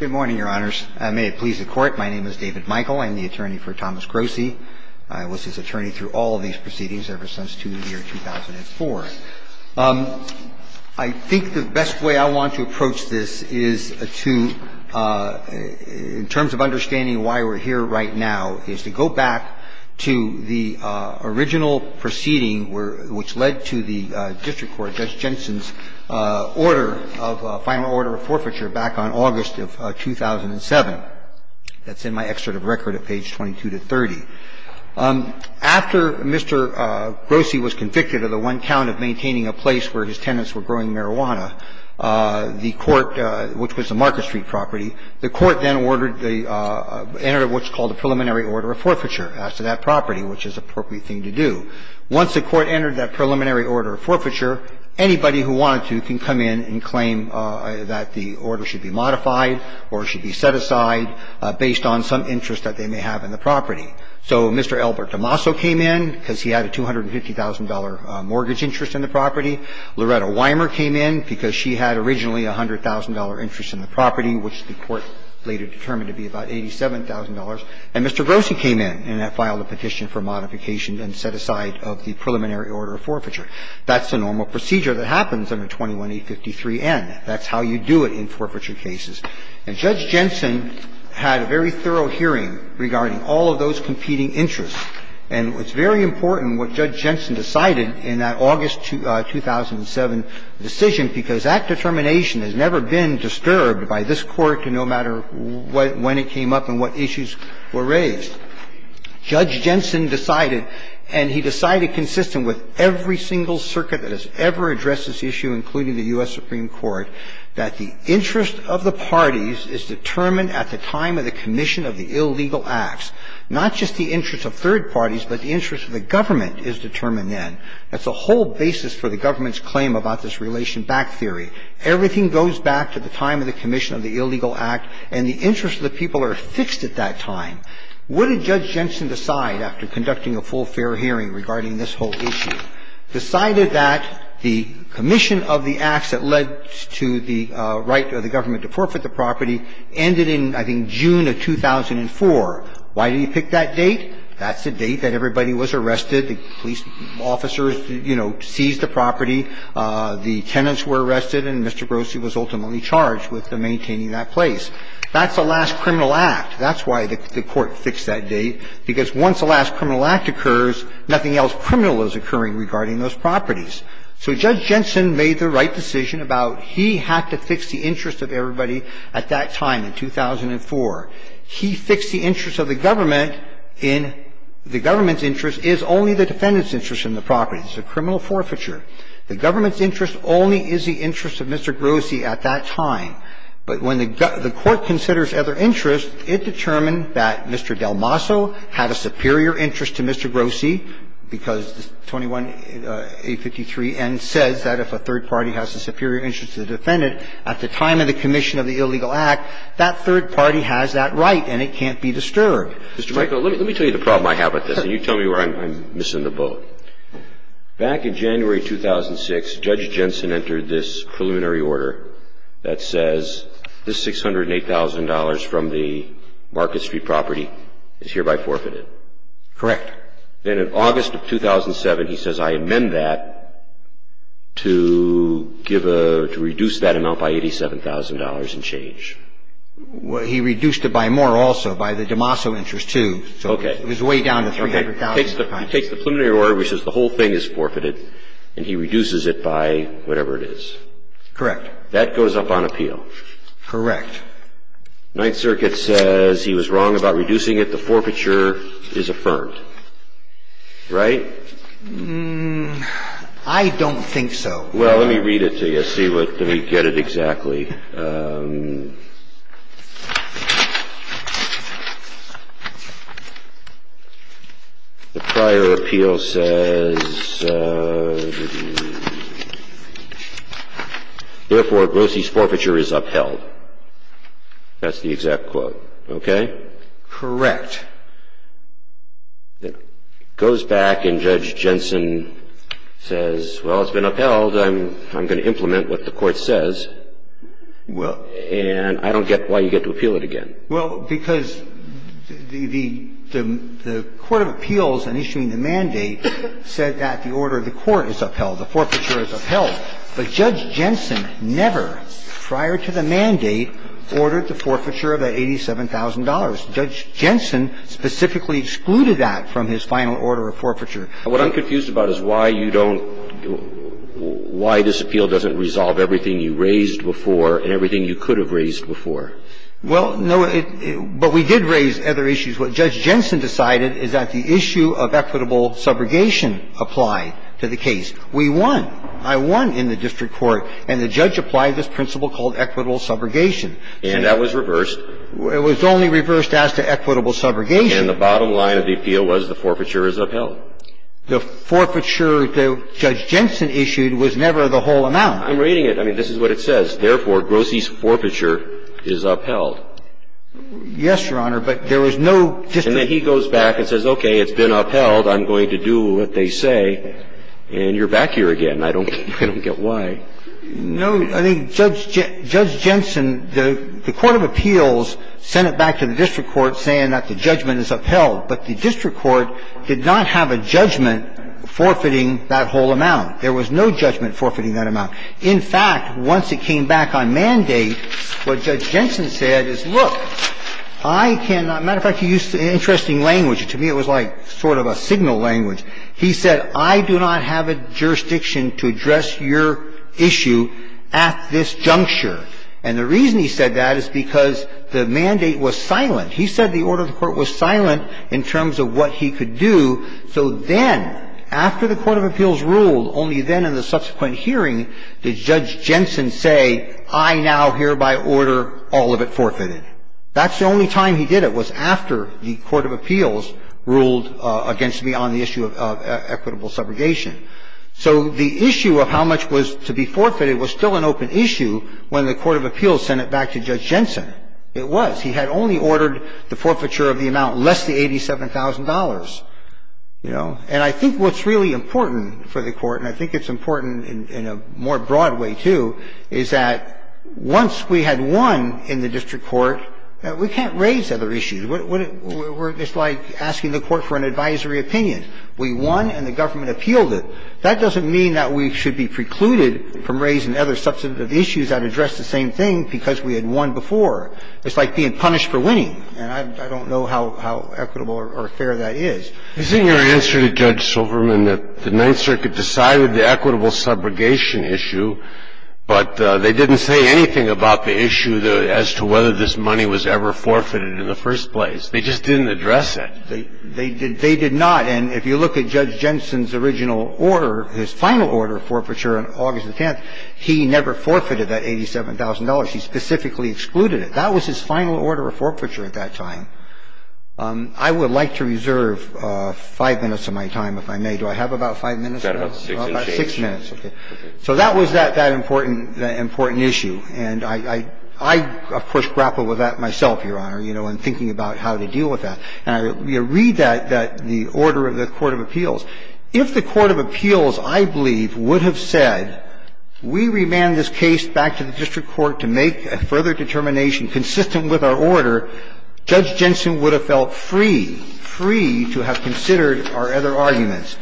Good morning, Your Honors. May it please the Court, my name is David Michael. I am the attorney for Thomas Grossi. I was his attorney through all of these proceedings ever since 2004. I think the best way I want to approach this is to, in terms of understanding why we're here right now, is to go back to the original proceeding which led to the case back on August of 2007. That's in my excerpt of record at page 22 to 30. After Mr. Grossi was convicted of the one count of maintaining a place where his tenants were growing marijuana, the Court, which was the Market Street property, the Court then ordered the entry of what's called a preliminary order of forfeiture as to that property, which is an appropriate thing to do. Once the Court entered that preliminary order of forfeiture, anybody who wanted to can come in and claim that the order should be modified or should be set aside based on some interest that they may have in the property. So Mr. Albert DeMaso came in because he had a $250,000 mortgage interest in the property. Loretta Weimer came in because she had originally a $100,000 interest in the property, which the Court later determined to be about $87,000. And Mr. Grossi came in and filed a petition for modification and set aside of the preliminary order of forfeiture. That's the normal procedure that happens under 21-853-N. That's how you do it in forfeiture cases. And Judge Jensen had a very thorough hearing regarding all of those competing interests. And it's very important what Judge Jensen decided in that August 2007 decision, because that determination has never been disturbed by this Court, no matter when it came up and what issues were raised. Judge Jensen decided, and he decided consistent with every single circuit that has ever addressed this issue, including the U.S. Supreme Court, that the interest of the parties is determined at the time of the commission of the illegal acts, not just the interest of third parties, but the interest of the government is determined then. That's a whole basis for the government's claim about this relation back theory. Everything goes back to the time of the commission of the illegal act, and the interest of the people are fixed at that time. What did Judge Jensen decide after conducting a full, fair hearing regarding this whole issue? Decided that the commission of the acts that led to the right of the government to forfeit the property ended in, I think, June of 2004. Why did he pick that date? That's the date that everybody was arrested. The police officers, you know, seized the property. The tenants were arrested, and Mr. Grossi was ultimately charged with maintaining that place. That's the last criminal act. That's why the Court fixed that date, because once the last criminal act occurs, nothing else criminal is occurring regarding those properties. So Judge Jensen made the right decision about he had to fix the interest of everybody at that time in 2004. He fixed the interest of the government in the government's interest is only the defendant's interest in the property. It's a criminal forfeiture. The government's interest only is the interest of Mr. Grossi at that time. But when the Court considers other interests, it determined that Mr. Delmasso had a superior interest to Mr. Grossi, because 21A53N says that if a third party has a superior interest to the defendant, at the time of the commission of the illegal act, that third party has that right and it can't be disturbed. Mr. Michael, let me tell you the problem I have with this, and you tell me where I'm missing the boat. Back in January 2006, Judge Jensen entered this preliminary order that says this $608,000 from the Market Street property is hereby forfeited. Correct. Then in August of 2007, he says I amend that to give a, to reduce that amount by $87,000 and change. He reduced it by more also, by the Delmasso interest too. Okay. It was way down to $300,000. He takes the preliminary order, which says the whole thing is forfeited, and he reduces it by whatever it is. Correct. That goes up on appeal. Correct. Ninth Circuit says he was wrong about reducing it. The forfeiture is affirmed. Right? I don't think so. Well, let me read it to you, see what we get it exactly. The prior appeal says, therefore, Grossi's forfeiture is upheld. That's the exact quote. Okay? Correct. It goes back, and Judge Jensen says, well, it's been upheld. I'm going to implement what the court says, and I don't get why you get to appeal it again. Well, because the Court of Appeals in issuing the mandate said that the order of the court is upheld, the forfeiture is upheld. But Judge Jensen never, prior to the mandate, ordered the forfeiture of that $87,000. Judge Jensen specifically excluded that from his final order of forfeiture. What I'm confused about is why you don't why this appeal doesn't resolve everything you raised before and everything you could have raised before. Well, no, but we did raise other issues. What Judge Jensen decided is that the issue of equitable subrogation applied to the case. We won. I won in the district court, and the judge applied this principle called equitable subrogation. And that was reversed. It was only reversed as to equitable subrogation. And the bottom line of the appeal was the forfeiture is upheld. The forfeiture that Judge Jensen issued was never the whole amount. I'm reading it. I mean, this is what it says. Therefore, Grossi's forfeiture is upheld. Yes, Your Honor, but there was no district court. And then he goes back and says, okay, it's been upheld. I'm going to do what they say. And you're back here again. I don't get why. No. I think Judge Jensen, the court of appeals sent it back to the district court saying that the judgment is upheld. But the district court did not have a judgment forfeiting that whole amount. There was no judgment forfeiting that amount. In fact, once it came back on mandate, what Judge Jensen said is, look, I can not ‑‑ matter of fact, he used an interesting language. To me, it was like sort of a signal language. He said, I do not have a jurisdiction to address your issue at this juncture. And the reason he said that is because the mandate was silent. He said the order of the Court was silent in terms of what he could do. So then, after the court of appeals ruled, only then in the subsequent hearing did Judge Jensen say, I now hereby order all of it forfeited. That's the only time he did it was after the court of appeals ruled against me on the issue of equitable subrogation. So the issue of how much was to be forfeited was still an open issue when the court of appeals sent it back to Judge Jensen. It was. He had only ordered the forfeiture of the amount less than $87,000. You know? And I think what's really important for the Court, and I think it's important in a more broad way, too, is that once we had won in the district court, we can't raise other issues. It's like asking the Court for an advisory opinion. We won, and the government appealed it. That doesn't mean that we should be precluded from raising other substantive issues that address the same thing because we had won before. It's like being punished for winning, and I don't know how equitable or fair that is. This is your answer to Judge Silverman that the Ninth Circuit decided the equitable subrogation issue, but they didn't say anything about the issue as to whether this money was ever forfeited in the first place. They just didn't address it. They did not. And if you look at Judge Jensen's original order, his final order of forfeiture on August the 10th, he never forfeited that $87,000. He specifically excluded it. That was his final order of forfeiture at that time. I would like to reserve five minutes of my time, if I may. Do I have about five minutes? About six minutes. So that was that important issue, and I, of course, grappled with that myself, Your Honor, you know, in thinking about how to deal with that. And I read that, the order of the court of appeals. If the court of appeals, I believe, would have said, we remand this case back to the district court to make a further determination consistent with our order, Judge Jensen would have felt free, free to have considered our other arguments.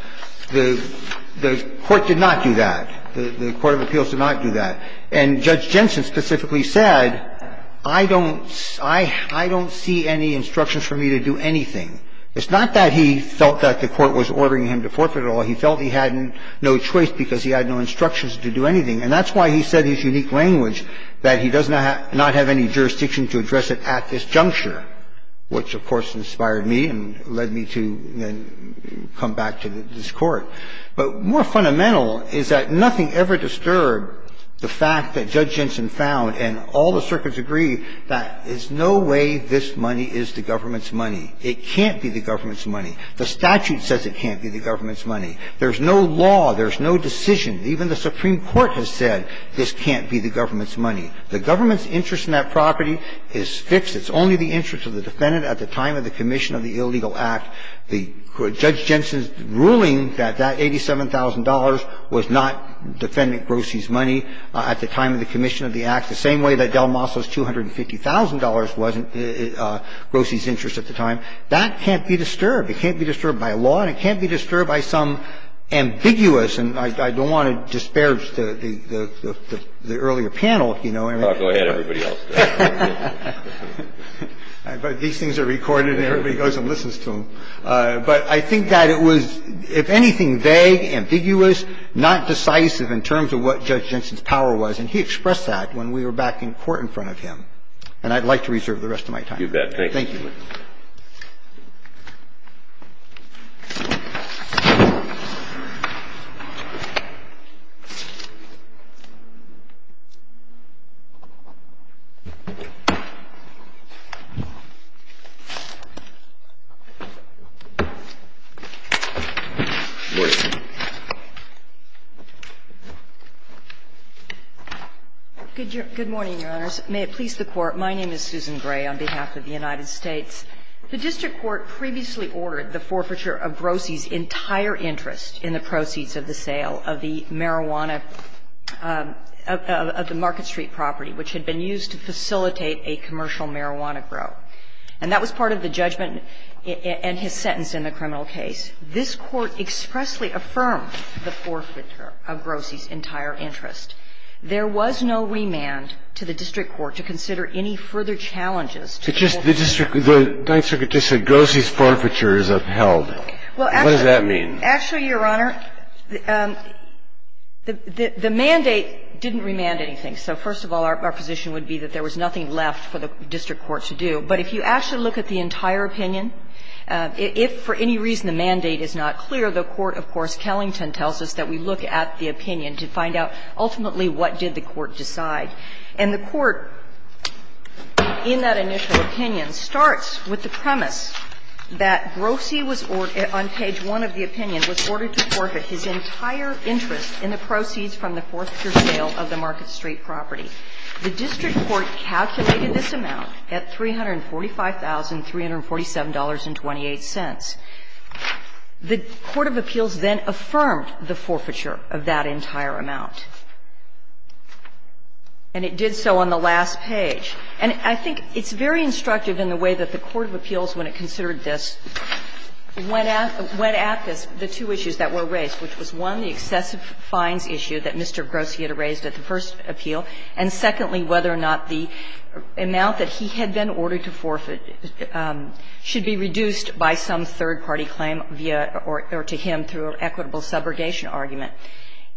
The court did not do that. The court of appeals did not do that. And Judge Jensen specifically said, I don't see any instructions for me to do anything. It's not that he felt that the court was ordering him to forfeit it all. He felt he had no choice because he had no instructions to do anything. And that's why he said in his unique language that he does not have any jurisdiction to address it at this juncture, which, of course, inspired me and led me to come back to this court. But more fundamental is that nothing ever disturbed the fact that Judge Jensen found, and all the circuits agree, that there's no way this money is the government's money. It can't be the government's money. The statute says it can't be the government's money. There's no law. There's no decision. Even the Supreme Court has said this can't be the government's money. The government's interest in that property is fixed. It's only the interest of the defendant at the time of the commission of the illegal act. Judge Jensen's ruling that that $87,000 was not defendant Grossi's money at the time of the commission of the act, the same way that Del Maso's $250,000 wasn't Grossi's interest at the time, that can't be disturbed. It can't be disturbed by law, and it can't be disturbed by some ambiguous and I don't want to disparage the earlier panel, if you know what I mean. Go ahead, everybody else. But these things are recorded, and everybody goes and listens to them. But I think that it was, if anything, vague, ambiguous, not decisive in terms of what Judge Jensen's power was, and he expressed that when we were back in court in front of him. And I'd like to reserve the rest of my time. You bet. Thank you. Thank you. Good morning, Your Honors. May it please the Court. My name is Susan Gray on behalf of the United States. The district court previously ordered the forfeiture of Grossi's entire interest in the proceeds of the sale of the marijuana, of the Market Street property, which had been used to facilitate a commercial marijuana grow. And that was part of the judgment and his sentence in the criminal case. This Court expressly affirmed the forfeiture of Grossi's entire interest. There was no remand to the district court to consider any further challenges to the whole process. The district court just said Grossi's forfeiture is upheld. What does that mean? Well, actually, Your Honor, the mandate didn't remand anything. So first of all, our position would be that there was nothing left for the district court to do. But if you actually look at the entire opinion, if for any reason the mandate is not clear, the court, of course, Kellington tells us that we look at the opinion to find out ultimately what did the court decide. And the court, in that initial opinion, starts with the premise that Grossi was ordered on page 1 of the opinion, was ordered to forfeit his entire interest in the proceeds from the forfeiture sale of the Market Street property. The district court calculated this amount at $345,347.28. The court of appeals then affirmed the forfeiture of that entire amount. And it did so on the last page. And I think it's very instructive in the way that the court of appeals, when it considered this, went at this, the two issues that were raised, which was, one, the excessive fines issue that Mr. Grossi had raised at the first appeal, and secondly, whether or not the amount that he had been ordered to forfeit should be reduced by some third-party claim via or to him through an equitable subrogation argument.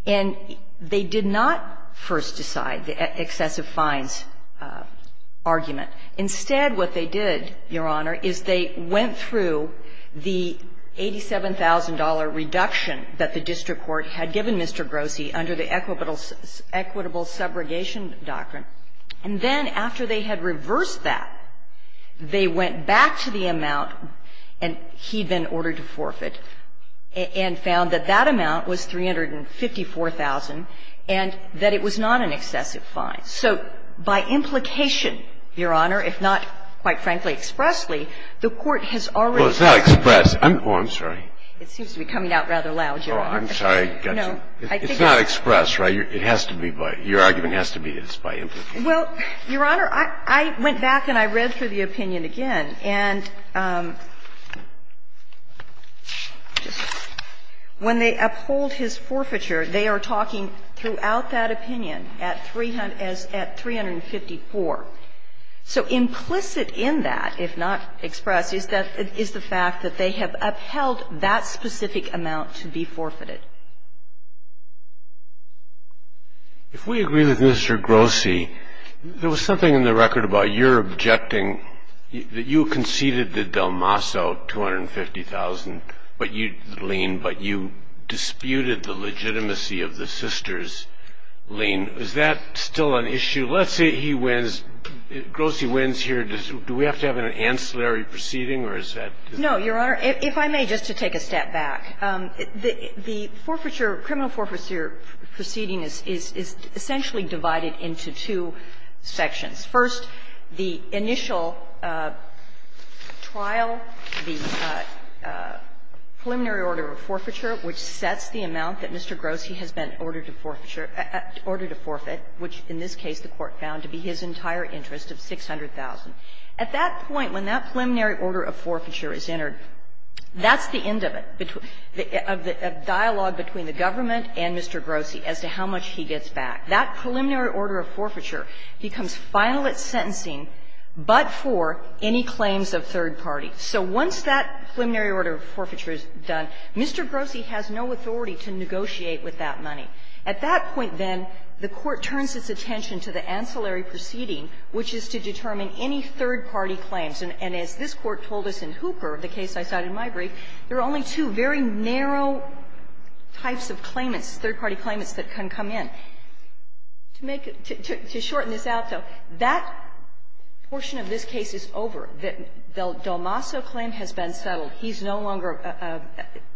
And they did not first decide the excessive fines argument. Instead, what they did, Your Honor, is they went through the $87,000 reduction that the district court had given Mr. Grossi under the equitable subrogation doctrine, and then after they had reversed that, they went back to the amount and said that he had been ordered to forfeit and found that that amount was $354,000 and that it was not an excessive fine. So by implication, Your Honor, if not, quite frankly, expressly, the court has already been. Breyer. Well, it's not expressed. Oh, I'm sorry. It seems to be coming out rather loud, Your Honor. Oh, I'm sorry. I got you. No, I think it's not expressed, right? It has to be by – your argument has to be it's by implication. Well, Your Honor, I went back and I read through the opinion again. And when they uphold his forfeiture, they are talking throughout that opinion at $354,000. So implicit in that, if not expressed, is the fact that they have upheld that specific amount to be forfeited. If we agree with Mr. Grossi, there was something in the record about your objecting that you conceded the Delmasso $250,000, but you, Lien, but you disputed the legitimacy of the Sisters, Lien. Is that still an issue? Let's say he wins. Grossi wins here. Do we have to have an ancillary proceeding or is that? No, Your Honor. If I may, just to take a step back, the forfeiture, criminal forfeiture proceeding is essentially divided into two sections. First, the initial trial, the preliminary order of forfeiture, which sets the amount that Mr. Grossi has been ordered to forfeiture – ordered to forfeit, which in this case the Court found to be his entire interest of $600,000. At that point, when that preliminary order of forfeiture is entered, that's the end of it, of the dialogue between the government and Mr. Grossi as to how much he gets back. That preliminary order of forfeiture becomes final at sentencing, but for any claims of third party. So once that preliminary order of forfeiture is done, Mr. Grossi has no authority to negotiate with that money. At that point, then, the Court turns its attention to the ancillary proceeding, which is to determine any third-party claims. And as this Court told us in Hooper, the case I cited in my brief, there are only two very narrow types of claimants, third-party claimants, that can come in. To make it – to shorten this out, though, that portion of this case is over. The Delmasso claim has been settled. He's no longer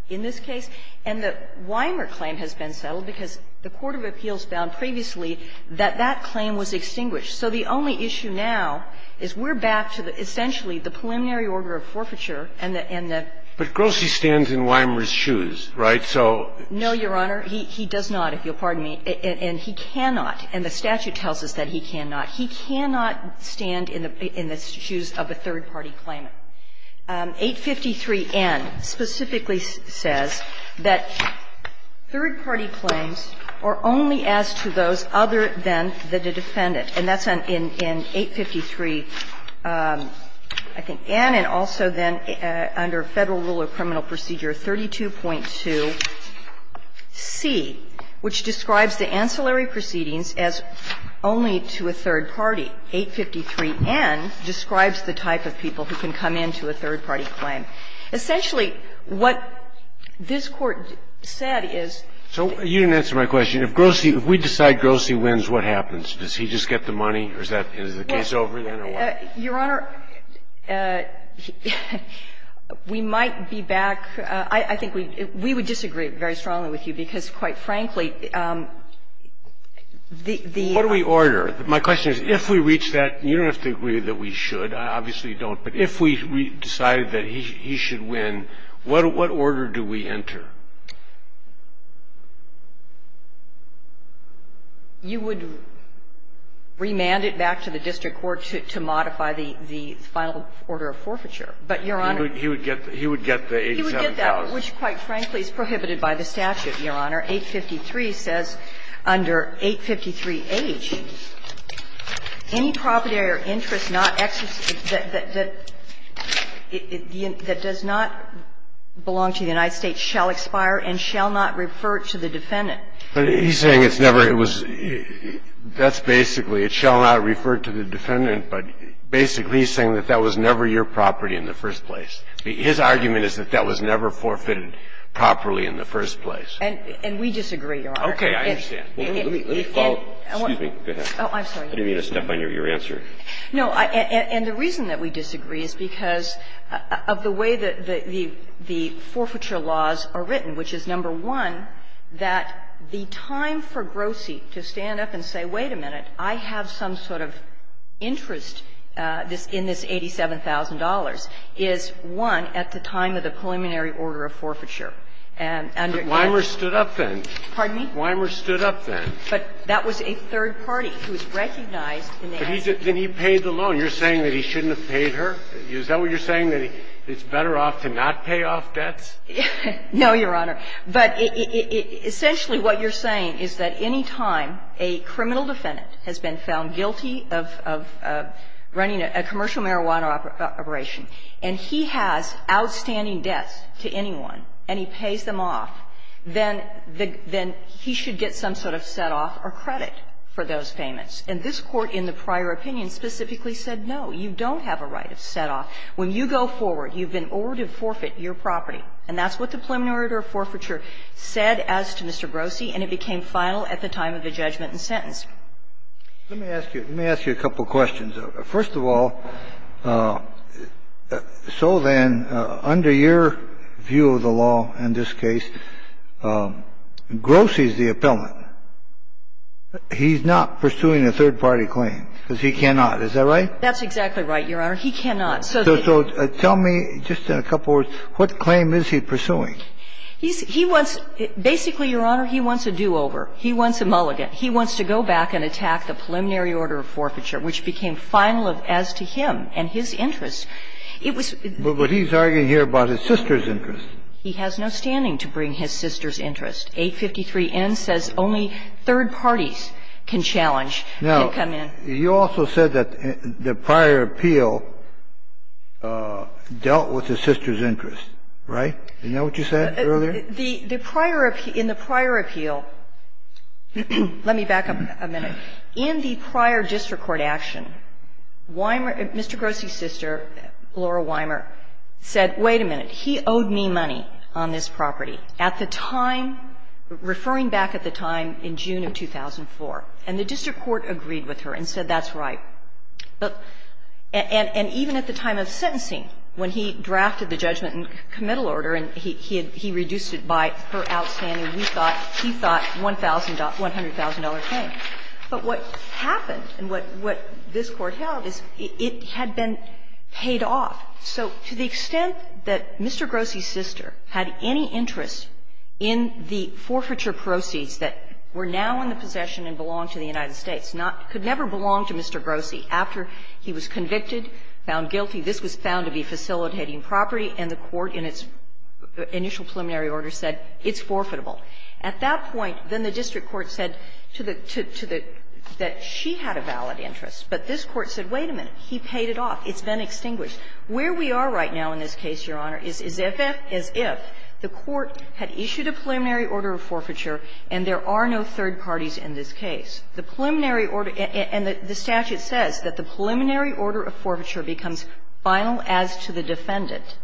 in this case. And the Weimer claim has been settled because the court of appeals found previously that that claim was extinguished. So the only issue now is we're back to essentially the preliminary order of forfeiture and the end of it. But Grossi stands in Weimer's shoes, right? So no, Your Honor, he does not, if you'll pardon me. And he cannot, and the statute tells us that he cannot, he cannot stand in the shoes of a third-party claimant. 853N specifically says that third-party claims are only as to those other than the defendant. And that's in 853, I think, N, and also then under Federal Rule of Criminal Procedure 32.2C, which describes the ancillary proceedings as only to a third-party. 853N describes the type of people who can come in to a third-party claim. Essentially, what this Court said is the case over then or what? We might be back. I think we would disagree very strongly with you, because, quite frankly, the order we order, my question is, if we reach that, and you don't have to agree that we should. I obviously don't. But if we decided that he should win, what order do we enter? You would remand it back to the district court to modify the final order of forfeiture. But, Your Honor, he would get the 87,000. He would get that, which, quite frankly, is prohibited by the statute, Your Honor. 853 says under 853H, any property or interest not that does not belong to the United States shall expire and shall not refer to the defendant. But he's saying it's never his. That's basically it shall not refer to the defendant, but basically he's saying that that was never your property in the first place. His argument is that that was never forfeited properly in the first place. And we disagree, Your Honor. Okay. I understand. Let me follow up. Excuse me. Go ahead. Oh, I'm sorry. I didn't mean to step on your answer. No. And the reason that we disagree is because of the way that the forfeiture laws are written, which is, number one, that the time for Grossi to stand up and say, wait a minute, I have some sort of interest in this $87,000, is, one, at the time of the preliminary order of forfeiture. And under 853H he was recognized in the act. But Weimer stood up then. Pardon me? Weimer stood up then. But that was a third party who was recognized in the act. But he's at the end, he paid the loan. You're saying that he shouldn't have paid her? Is that what you're saying, that it's better off to not pay off debts? No, Your Honor. But essentially what you're saying is that any time a criminal defendant has been found guilty of running a commercial marijuana operation and he has outstanding debts to anyone and he pays them off, then he should get some sort of set-off or credit for those payments. And this Court in the prior opinion specifically said, no, you don't have a right of set-off. When you go forward, you've been ordered to forfeit your property. And that's what the preliminary order of forfeiture said as to Mr. Grossi, and it became final at the time of the judgment and sentence. Let me ask you a couple questions. First of all, so then, under your view of the law in this case, Grossi is the appellant. He's not pursuing a third party claim, because he cannot, is that right? That's exactly right, Your Honor. He cannot. So tell me, just in a couple words, what claim is he pursuing? He wants to do over. He wants a mulligan. He wants to go back and attack the preliminary order of forfeiture, which became final as to him and his interests. It was But he's arguing here about his sister's interests. He has no standing to bring his sister's interests. 853N says only third parties can challenge and come in. He also said that the prior appeal dealt with his sister's interests, right? Isn't that what you said earlier? The prior appeal, in the prior appeal, let me back up a minute. In the prior district court action, Weimer, Mr. Grossi's sister, Laura Weimer, said, wait a minute, he owed me money on this property. At the time, referring back at the time in June of 2004, and the district court agreed with her and said that's right. And even at the time of sentencing, when he drafted the judgment and committal order, and he reduced it by her outstanding, we thought, he thought, $100,000 claim. But what happened and what this Court held is it had been paid off. So to the extent that Mr. Grossi's sister had any interest in the forfeiture proceeds that were now in the possession and belonged to the United States, not could never belong to Mr. Grossi, after he was convicted, found guilty, this was found to be facilitating property, and the court in its initial preliminary order said, it's forfeitable. At that point, then the district court said to the to the, that she had a valid interest. But this Court said, wait a minute, he paid it off, it's been extinguished. Where we are right now in this case, Your Honor, is as if, as if the court had issued a preliminary order of forfeiture and there are no third parties in this case. The preliminary order, and the statute says that the preliminary order of forfeiture becomes final as to the defendant,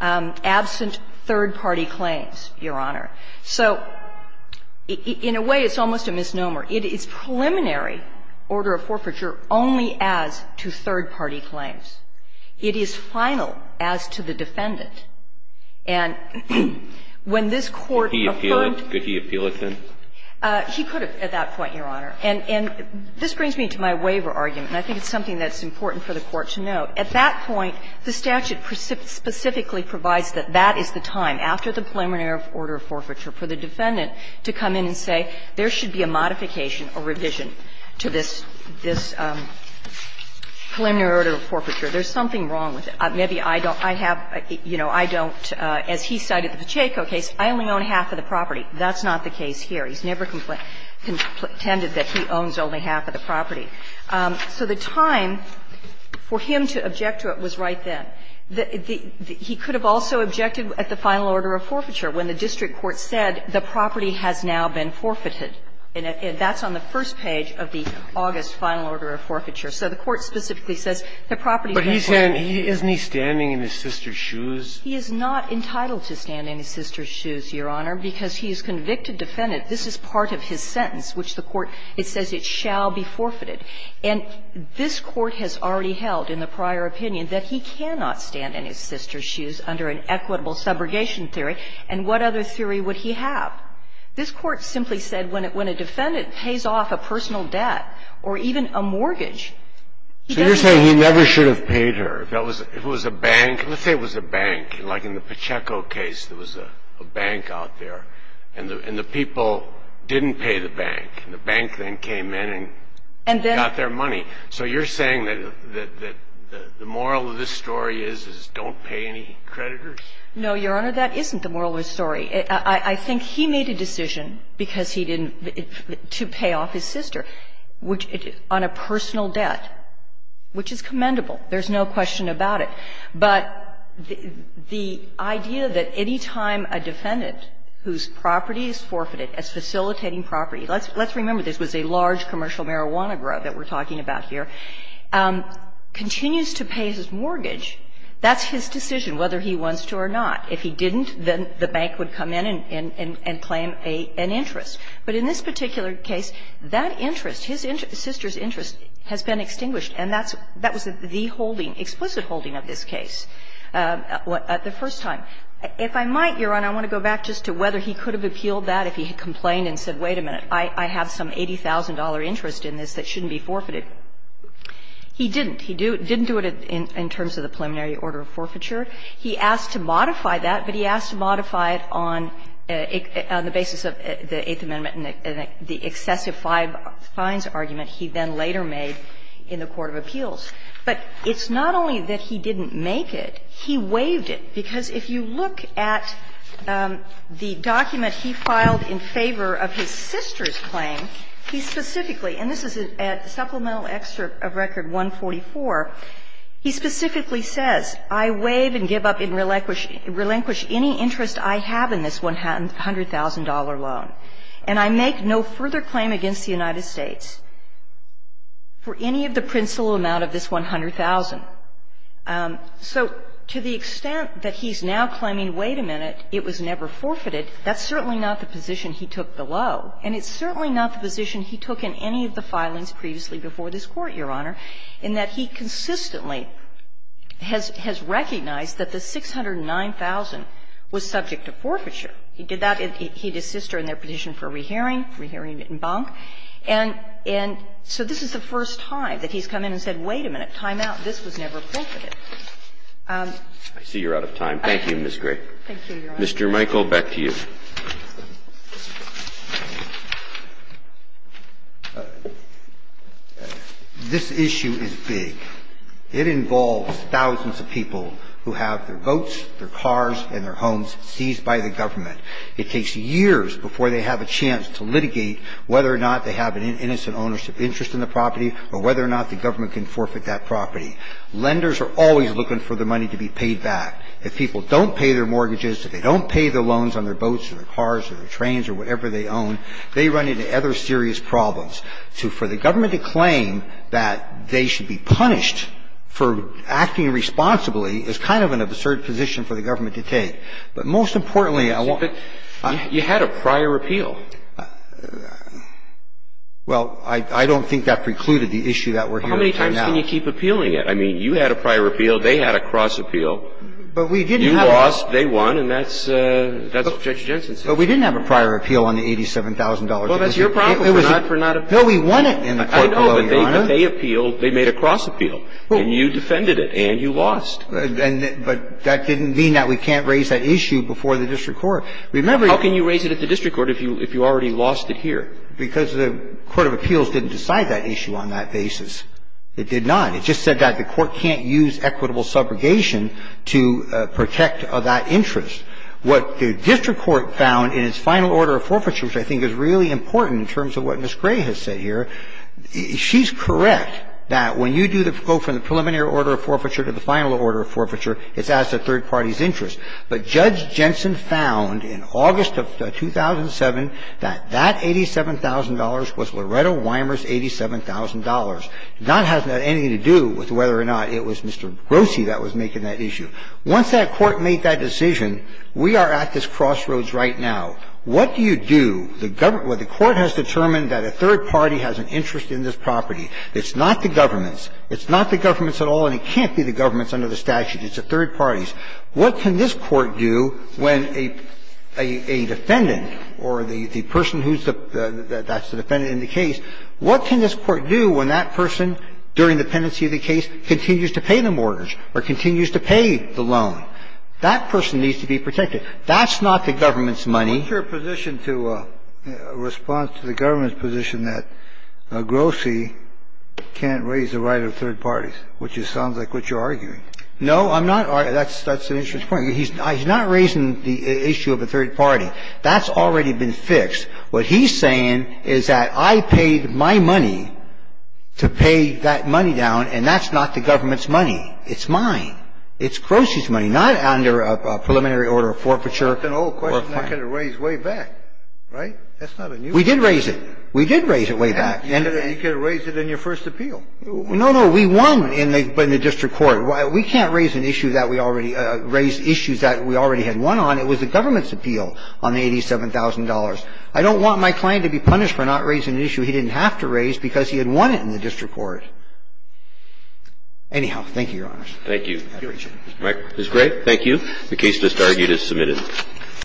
absent third-party claims, Your Honor. So in a way, it's almost a misnomer. It is preliminary order of forfeiture only as to third-party claims. It is final as to the defendant. And when this Court affirmed to the district court that Mr. Grossi had a valid interest in this case, the court said, no, I don't think so, Your Honor. And this brings me to my waiver argument, and I think it's something that's important for the Court to note. At that point, the statute specifically provides that that is the time, after the preliminary order of forfeiture, for the defendant to come in and say, there should be a modification or revision to this preliminary order of forfeiture. There's something wrong with it. Maybe I don't have, you know, I don't, as he cited the Pacheco case, I only own half of the property. That's not the case here. He's never contended that he owns only half of the property. So the time for him to object to it was right then. He could have also objected at the final order of forfeiture when the district court said the property has now been forfeited. And that's on the first page of the August final order of forfeiture. So the court specifically says the property is now forfeited. But he's saying, isn't he standing in his sister's shoes? He is not entitled to stand in his sister's shoes, Your Honor, because he is a convicted defendant. This is part of his sentence, which the court, it says, it shall be forfeited. And this Court has already held in the prior opinion that he cannot stand in his sister's shoes under an equitable subrogation theory, and what other theory would he have? This Court simply said when a defendant pays off a personal debt or even a mortgage, he doesn't have to. So you're saying he never should have paid her. If it was a bank, let's say it was a bank, like in the Pacheco case, there was a bank out there, and the people didn't pay the bank, and the bank then came in and got their money. So you're saying that the moral of this story is, is don't pay any creditors? No, Your Honor, that isn't the moral of the story. I think he made a decision because he didn't, to pay off his sister, which, on a personal debt, which is commendable. There's no question about it. But the idea that any time a defendant whose property is forfeited as facilitating property, let's remember this was a large commercial marijuana grub that we're talking about here, continues to pay his mortgage, that's his decision whether he wants to or not. If he didn't, then the bank would come in and claim an interest. But in this particular case, that interest, his sister's interest, has been extinguished, and that's, that was the holding, explicit holding of this case, the first time. If I might, Your Honor, I want to go back just to whether he could have appealed that if he had complained and said, wait a minute, I have some $80,000 interest in this that shouldn't be forfeited. He didn't. He didn't do it in terms of the preliminary order of forfeiture. He asked to modify that, but he asked to modify it on the basis of the Eighth Amendment and the excessive fines argument he then later made in the court of appeals. But it's not only that he didn't make it, he waived it. Because if you look at the document he filed in favor of his sister's claim, he specifically – and this is at Supplemental Excerpt of Record 144 – he specifically says, I waive and give up and relinquish any interest I have in this $100,000 loan, and I make no further claim against the United States for any of the principal amount of this $100,000. So to the extent that he's now claiming, wait a minute, it was never forfeited, that's certainly not the position he took below, and it's certainly not the position he took in any of the filings previously before this Court, Your Honor, in that he consistently has recognized that the $609,000 was subject to forfeiture. He did that. He did his sister in their petition for rehearing, rehearing in Bonk. And so this is the first time that he's come in and said, wait a minute, time out, this was never forfeited. Roberts. I see you're out of time. Thank you, Ms. Gray. Thank you, Your Honor. Mr. Michael, back to you. This issue is big. It involves thousands of people who have their boats, their cars, and their homes seized by the government. It takes years before they have a chance to litigate whether or not they have an innocent ownership interest in the property or whether or not the government can forfeit that property. Lenders are always looking for their money to be paid back. If people don't pay their mortgages, if they don't pay their loans on their boats or their cars or their trains or whatever they own, they run into other serious problems. So for the government to claim that they should be punished for acting responsibly is kind of an absurd position for the government to take. But most importantly, I want to ---- But you had a prior appeal. Well, I don't think that precluded the issue that we're here to talk about. How many times can you keep appealing it? I mean, you had a prior appeal. They had a cross appeal. But we didn't have a ---- You lost, they won, and that's what Judge Jensen said. But we didn't have a prior appeal on the $87,000. Well, that's your problem for not appealing. No, we won it in the court below, Your Honor. I know, but they appealed, they made a cross appeal, and you defended it, and you lost. But that didn't mean that we can't raise that issue before the district court. Remember ---- How can you raise it at the district court if you already lost it here? Because the court of appeals didn't decide that issue on that basis. It did not. It just said that the court can't use equitable subrogation to protect that interest. What the district court found in its final order of forfeiture, which I think is really important in terms of what Ms. Gray has said here, she's correct that when you do the district court from the preliminary order of forfeiture to the final order of forfeiture, it's as a third party's interest. But Judge Jensen found in August of 2007 that that $87,000 was Loretta Weimer's $87,000. It did not have anything to do with whether or not it was Mr. Grossi that was making that issue. Once that court made that decision, we are at this crossroads right now. What do you do? The government ---- the court has determined that a third party has an interest in this property. It's not the government's. It's not the government's at all, and it can't be the government's under the statute. It's a third party's. What can this Court do when a defendant or the person who's the ---- that's the defendant in the case, what can this Court do when that person, during the pendency of the case, continues to pay the mortgage or continues to pay the loan? That person needs to be protected. That's not the government's money. It's the government's money. You could argue that Wakhan F abb at the moment could also be the court of Florida. That's your position. P Can't raise the right, which sounds like what you're arguing. No, I'm not. That's that's an interesting point. He's not raising the issue of a third party. That's already been fixed. What he's saying is that I paid my money to pay that money down, and that's not the government's money. It's mine. It's Croce's money, not under a preliminary order of forfeiture. That's an old question I could have raised way back, right? That's not a new one. We did raise it. We did raise it way back. You could have raised it in your first appeal. No, no. We won in the district court. We can't raise an issue that we already raised issues that we already had won on. It was the government's appeal on the $87,000. I don't want my client to be punished for not raising an issue he didn't have to raise because he had won it in the district court. Anyhow, thank you, Your Honors. Thank you. Thank you, Mr. McCracken. It was great. Thank you. The case just argued is submitted.